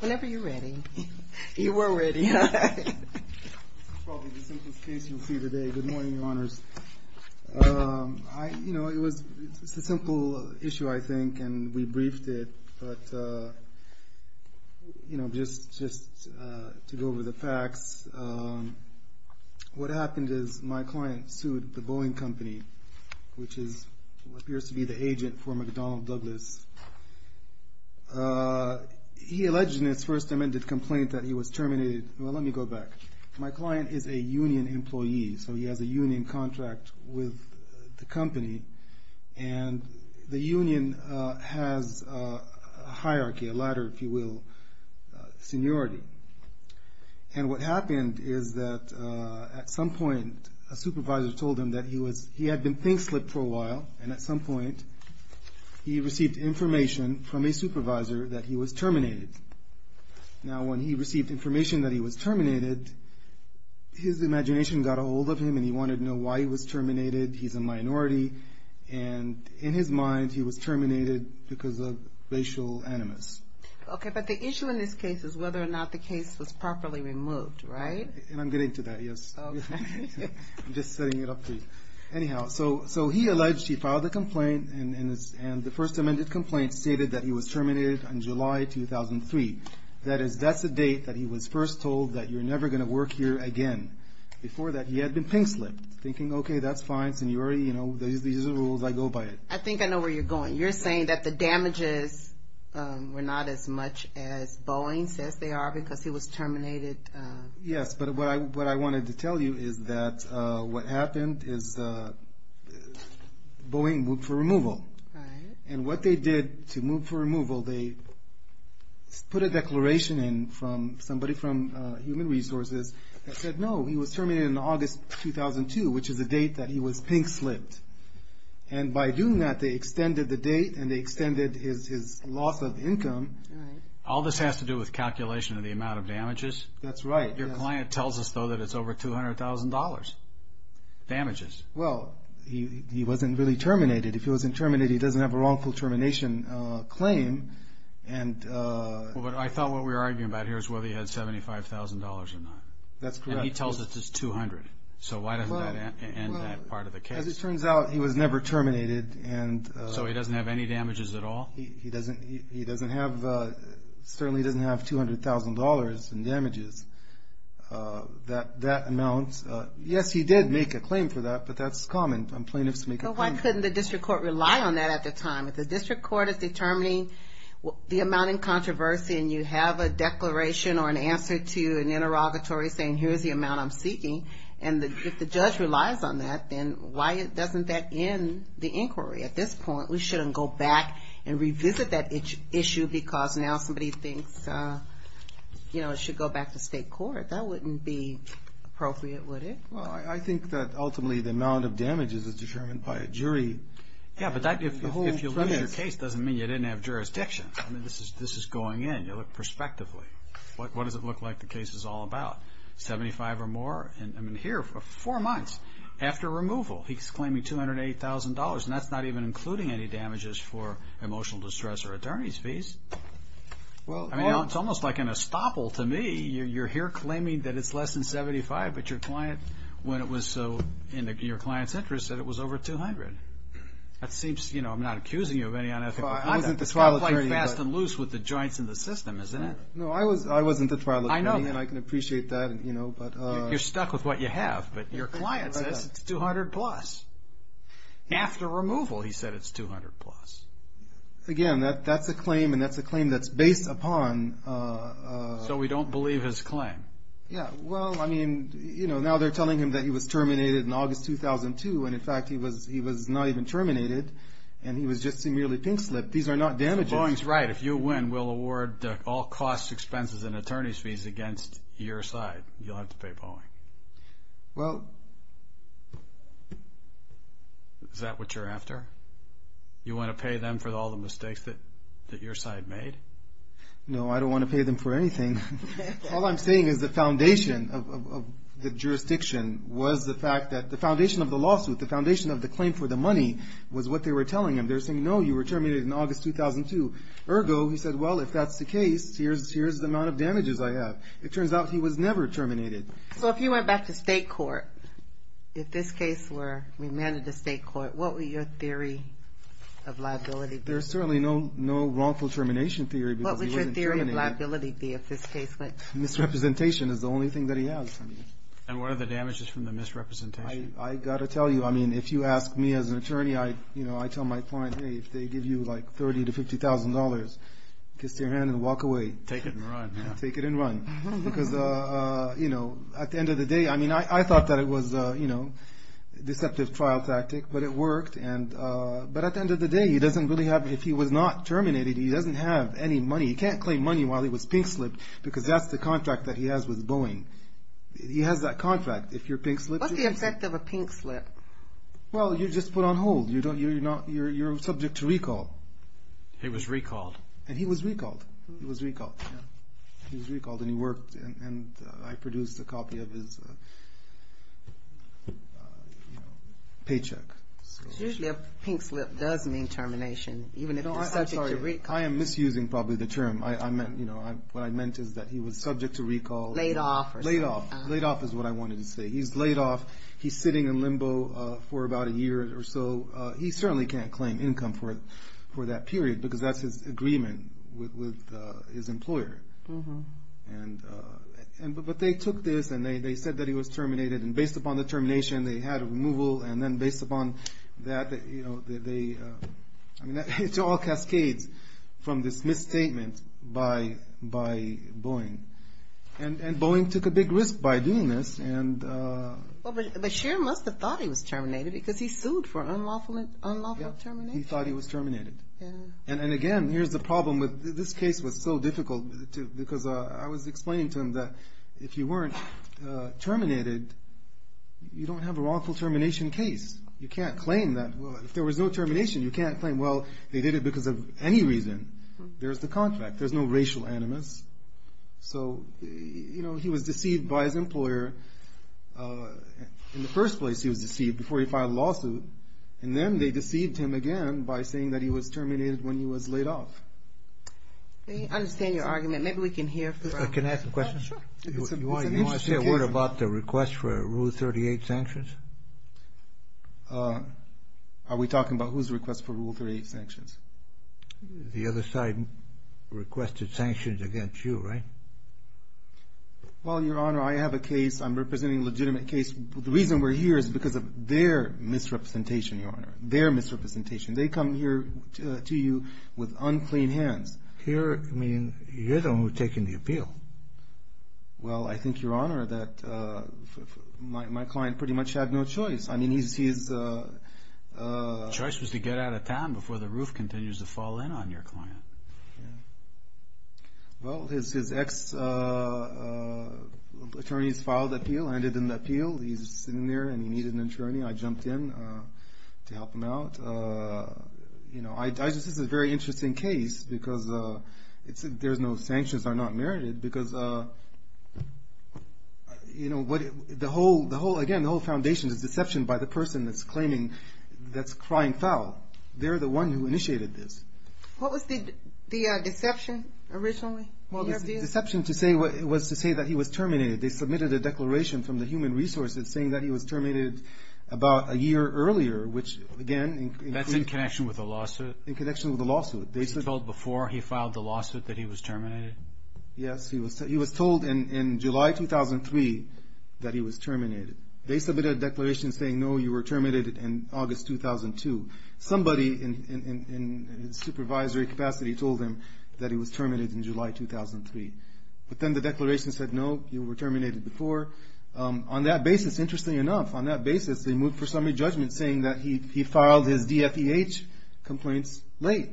Whenever you're ready. You were ready. This is probably the simplest case you'll see today. Good morning, Your Honors. You know, it was a simple issue, I think, and we briefed it. But, you know, just to go over the facts, what happened is my client sued the Boeing Company, which appears to be the agent for McDonnell Douglas. He alleged in his first amended complaint that he was terminated. Well, let me go back. My client is a union employee, so he has a union contract with the company, and the union has a hierarchy, a ladder, if you will, seniority. And what happened is that at some point, a supervisor told him that he had been think-slipped for a while, and at some point, he received information from a supervisor that he was terminated. Now, when he received information that he was terminated, his imagination got a hold of him, and he wanted to know why he was terminated. He's a minority, and in his mind, he was terminated because of racial animus. Okay, but the issue in this case is whether or not the case was properly removed, right? And I'm getting to that, yes. I'm just setting it up for you. Anyhow, so he alleged he filed a complaint, and the first amended complaint stated that he was terminated on July 2003. That is, that's the date that he was first told that you're never going to work here again. Before that, he had been think-slipped, thinking, okay, that's fine, seniority, these are the rules, I go by it. I think I know where you're going. You're saying that the damages were not as much as Boeing says they are, because he was terminated. Yes, but what I wanted to tell you is that what happened is Boeing moved for removal. And what they did to move for removal, they put a declaration in from somebody from Human Resources that said, no, he was terminated in August 2002, which is the date that he was think-slipped. And by doing that, they extended the date, and they extended his loss of income. All this has to do with calculation of the amount of damages? That's right. Your client tells us, though, that it's over $200,000, damages. Well, he wasn't really terminated. If he wasn't terminated, he doesn't have a wrongful termination claim. But I thought what we were arguing about here is whether he had $75,000 or not. That's correct. And he tells us it's $200,000, so why doesn't that end that part of the case? As it turns out, he was never terminated. So he doesn't have any damages at all? He certainly doesn't have $200,000 in damages. Yes, he did make a claim for that, but that's common for plaintiffs to make a claim. But why couldn't the district court rely on that at the time? If the district court is determining the amount in controversy, and you have a declaration or an answer to an interrogatory saying, here's the amount I'm seeking, and if the judge relies on that, then why doesn't that end the inquiry at this point? We shouldn't go back and revisit that issue because now somebody thinks it should go back to state court. That wouldn't be appropriate, would it? Well, I think that ultimately the amount of damages is determined by a jury. Yeah, but if you lose your case, it doesn't mean you didn't have jurisdiction. This is going in. You look prospectively. What does it look like the case is all about? $75,000 or more? Here, four months after removal, he's claiming $208,000, and that's not even including any damages for emotional distress or attorney's fees. I mean, it's almost like an estoppel to me. You're here claiming that it's less than $75,000, but your client's interest said it was over $200,000. I'm not accusing you of any unethical conduct. I wasn't the trial attorney, but... Stop playing fast and loose with the joints in the system, isn't it? No, I wasn't the trial attorney, and I can appreciate that. You're stuck with what you have, but your client says it's $200,000-plus. After removal, he said it's $200,000-plus. Again, that's a claim, and that's a claim that's based upon... So we don't believe his claim. Yeah, well, I mean, now they're telling him that he was terminated in August 2002, and in fact, he was not even terminated, and he was just in merely pink slip. These are not damages. Boeing's right. If you win, we'll award all costs, expenses, and attorney's fees against your side. You'll have to pay Boeing. Well... Is that what you're after? You want to pay them for all the mistakes that your side made? No, I don't want to pay them for anything. All I'm saying is the foundation of the jurisdiction was the fact that the foundation of the lawsuit, the foundation of the claim for the money, was what they were telling him. They're saying, no, you were terminated in August 2002. Ergo, he said, well, if that's the case, here's the amount of damages I have. It turns out he was never terminated. So if you went back to state court, if this case were remanded to state court, what would your theory of liability be? There's certainly no wrongful termination theory because he wasn't terminated. What would your theory of liability be if this case went... Misrepresentation is the only thing that he has. And what are the damages from the misrepresentation? I got to tell you, I mean, if you ask me as an attorney, I tell my client, hey, if they give you like $30,000 to $50,000, kiss their hand and walk away. Take it and run. Take it and run. Because at the end of the day, I mean, I thought that it was a deceptive trial tactic, but it worked. But at the end of the day, he doesn't really have... If he was not terminated, he doesn't have any money. He can't claim money while he was pink slipped because that's the contract that he has with Boeing. He has that contract. What's the effect of a pink slip? Well, you're just put on hold. You're subject to recall. He was recalled. And he was recalled. He was recalled. He was recalled, and he worked, and I produced a copy of his paycheck. Because usually a pink slip does mean termination, even if he's subject to recall. I am misusing probably the term. What I meant is that he was subject to recall. Laid off or something. Laid off. Laid off is what I wanted to say. He's laid off. He's sitting in limbo for about a year or so. He certainly can't claim income for that period because that's his agreement with his employer. But they took this, and they said that he was terminated. And based upon the termination, they had a removal. And then based upon that, they... It's all cascades from this misstatement by Boeing. And Boeing took a big risk by doing this. But Sharon must have thought he was terminated because he sued for unlawful termination. He thought he was terminated. And again, here's the problem with... This case was so difficult because I was explaining to him that if you weren't terminated, you don't have a wrongful termination case. You can't claim that. If there was no termination, you can't claim, well, they did it because of any reason. There's the contract. There's no racial animus. In the first place, he was deceived before he filed a lawsuit. And then they deceived him again by saying that he was terminated when he was laid off. I understand your argument. Maybe we can hear from... Can I ask a question? Sure. You want to say a word about the request for Rule 38 sanctions? Are we talking about whose request for Rule 38 sanctions? The other side requested sanctions against you, right? Well, Your Honor, I have a case. I'm representing a legitimate case. The reason we're here is because of their misrepresentation, Your Honor. Their misrepresentation. They come here to you with unclean hands. Here, I mean, you're the one who's taking the appeal. Well, I think, Your Honor, that my client pretty much had no choice. I mean, he's... The choice was to get out of town before the roof continues to fall in on your client. Well, his ex-attorneys filed the appeal, handed him the appeal. He's sitting there and he needed an attorney. I jumped in to help him out. You know, this is a very interesting case because there's no sanctions are not merited because, you know, the whole... Again, the whole foundation is deception by the person that's claiming, that's crying foul. They're the one who initiated this. What was the deception originally? Well, the deception was to say that he was terminated. They submitted a declaration from the human resources saying that he was terminated about a year earlier, which, again... That's in connection with the lawsuit? In connection with the lawsuit. Were you told before he filed the lawsuit that he was terminated? Yes, he was told in July 2003 that he was terminated. They submitted a declaration saying, no, you were terminated in August 2002. Somebody in supervisory capacity told him that he was terminated in July 2003. But then the declaration said, no, you were terminated before. On that basis, interestingly enough, on that basis, they moved for summary judgment saying that he filed his DFEH complaints late.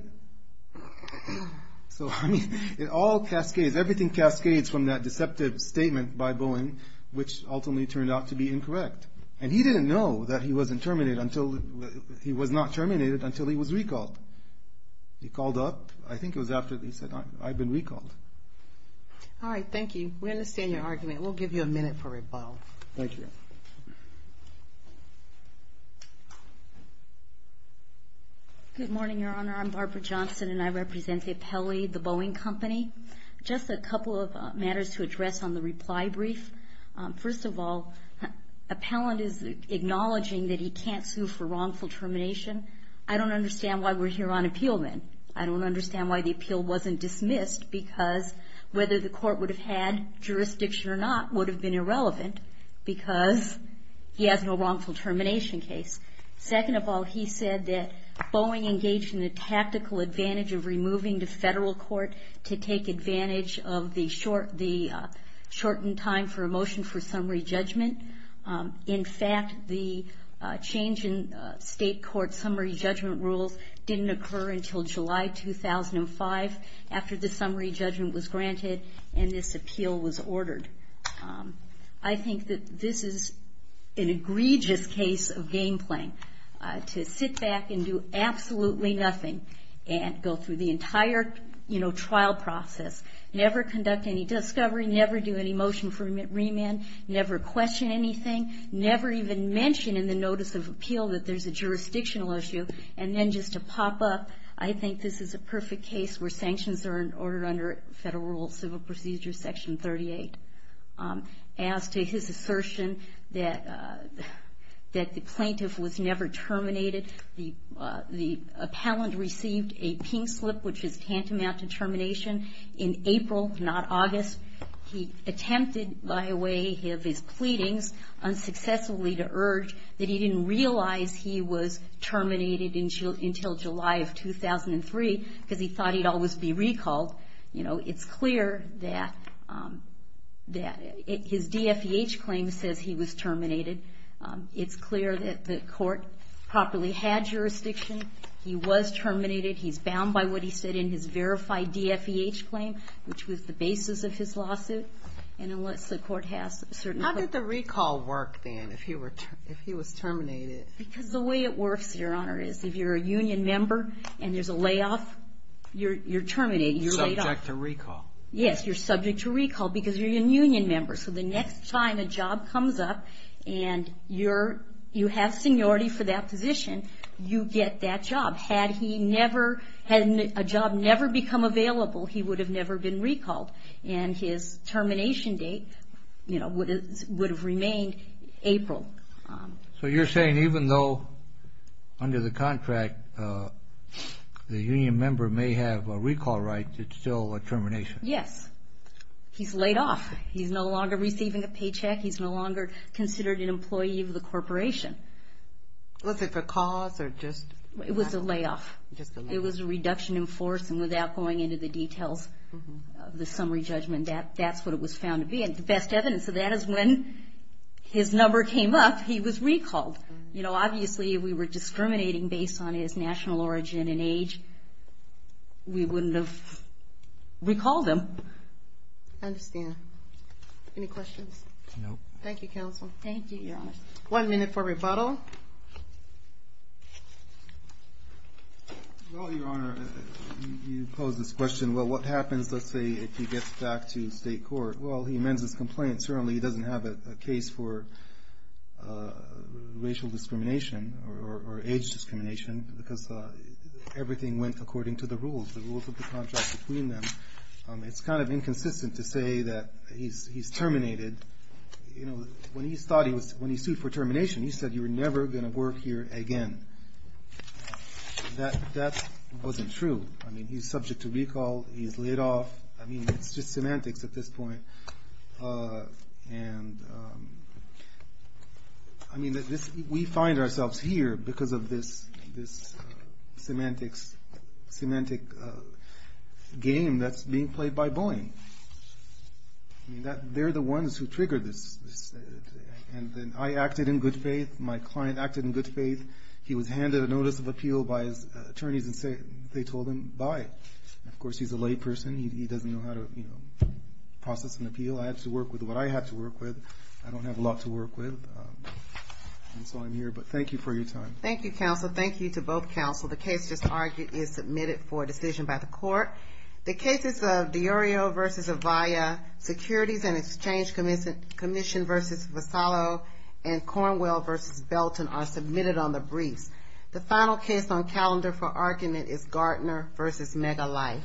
So, I mean, it all cascades. Everything cascades from that deceptive statement by Bowen, which ultimately turned out to be incorrect. And he didn't know that he wasn't terminated until... He was not terminated until he was recalled. He called up, I think it was after... He said, I've been recalled. All right, thank you. We understand your argument. We'll give you a minute for rebuttal. Thank you. Good morning, Your Honor. I'm Barbara Johnson, and I represent the appellee, the Boeing Company. Just a couple of matters to address on the reply brief. First of all, appellant is acknowledging that he can't sue for wrongful termination. I don't understand why we're here on appeal then. I don't understand why the appeal wasn't dismissed because whether the court would have had jurisdiction or not would have been irrelevant because he has no wrongful termination case. Second of all, he said that Boeing engaged in a tactical advantage of removing the federal court to take advantage of the shortened time for a motion for summary judgment. In fact, the change in state court summary judgment rules didn't occur until July 2005. After the summary judgment was granted and this appeal was ordered. I think that this is an egregious case of game playing to sit back and do absolutely nothing and go through the entire trial process, never conduct any discovery, never do any motion for remand, never question anything, never even mention in the notice of appeal that there's a jurisdictional issue, and then just to pop up. I think this is a perfect case where sanctions are in order under federal civil procedure section 38. As to his assertion that the plaintiff was never terminated, the appellant received a pink slip, which is tantamount to termination, in April, not August. He attempted by way of his pleadings unsuccessfully to urge that he didn't realize he was terminated until July of 2003 because he thought he'd always be recalled. You know, it's clear that his DFEH claim says he was terminated. It's clear that the court properly had jurisdiction. He was terminated. He's bound by what he said in his verified DFEH claim, which was the basis of his lawsuit. And unless the court has certain... If he was terminated... Because the way it works, Your Honor, is if you're a union member and there's a layoff, you're terminated. You're laid off. Subject to recall. Yes, you're subject to recall because you're a union member. So the next time a job comes up and you have seniority for that position, you get that job. Had a job never become available, he would have never been recalled, and his termination date would have remained April. So you're saying even though under the contract the union member may have a recall right, it's still a termination. Yes. He's laid off. He's no longer receiving a paycheck. He's no longer considered an employee of the corporation. It was a layoff. Just a layoff. It was a reduction in force, and without going into the details of the summary judgment, that's what it was found to be. And the best evidence of that is when his number came up, he was recalled. Obviously, if we were discriminating based on his national origin and age, we wouldn't have recalled him. I understand. Any questions? No. Thank you, Counsel. Thank you, Your Honor. One minute for rebuttal. Your Honor, you pose this question, well, what happens, let's say, if he gets back to state court? Well, he amends his complaint. Certainly he doesn't have a case for racial discrimination or age discrimination because everything went according to the rules, the rules of the contract between them. It's kind of inconsistent to say that he's terminated. You know, when he sued for termination, he said, you're never going to work here again. That wasn't true. I mean, he's subject to recall. He's laid off. I mean, it's just semantics at this point. And I mean, we find ourselves here because of this semantics, semantic game that's being played by Boeing. I mean, they're the ones who triggered this. And then I acted in good faith. My client acted in good faith. He was handed a notice of appeal by his attorneys, and they told him bye. Of course, he's a lay person. He doesn't know how to process an appeal. I had to work with what I had to work with. I don't have a lot to work with, and so I'm here. But thank you for your time. Thank you, Counsel. Thank you to both counsel. The case just argued is submitted for decision by the court. The cases of DiIorio v. Avaya, Securities and Exchange Commission v. Vassallo, and Cornwell v. Belton are submitted on the briefs. The final case on calendar for argument is Gardner v. Megalife.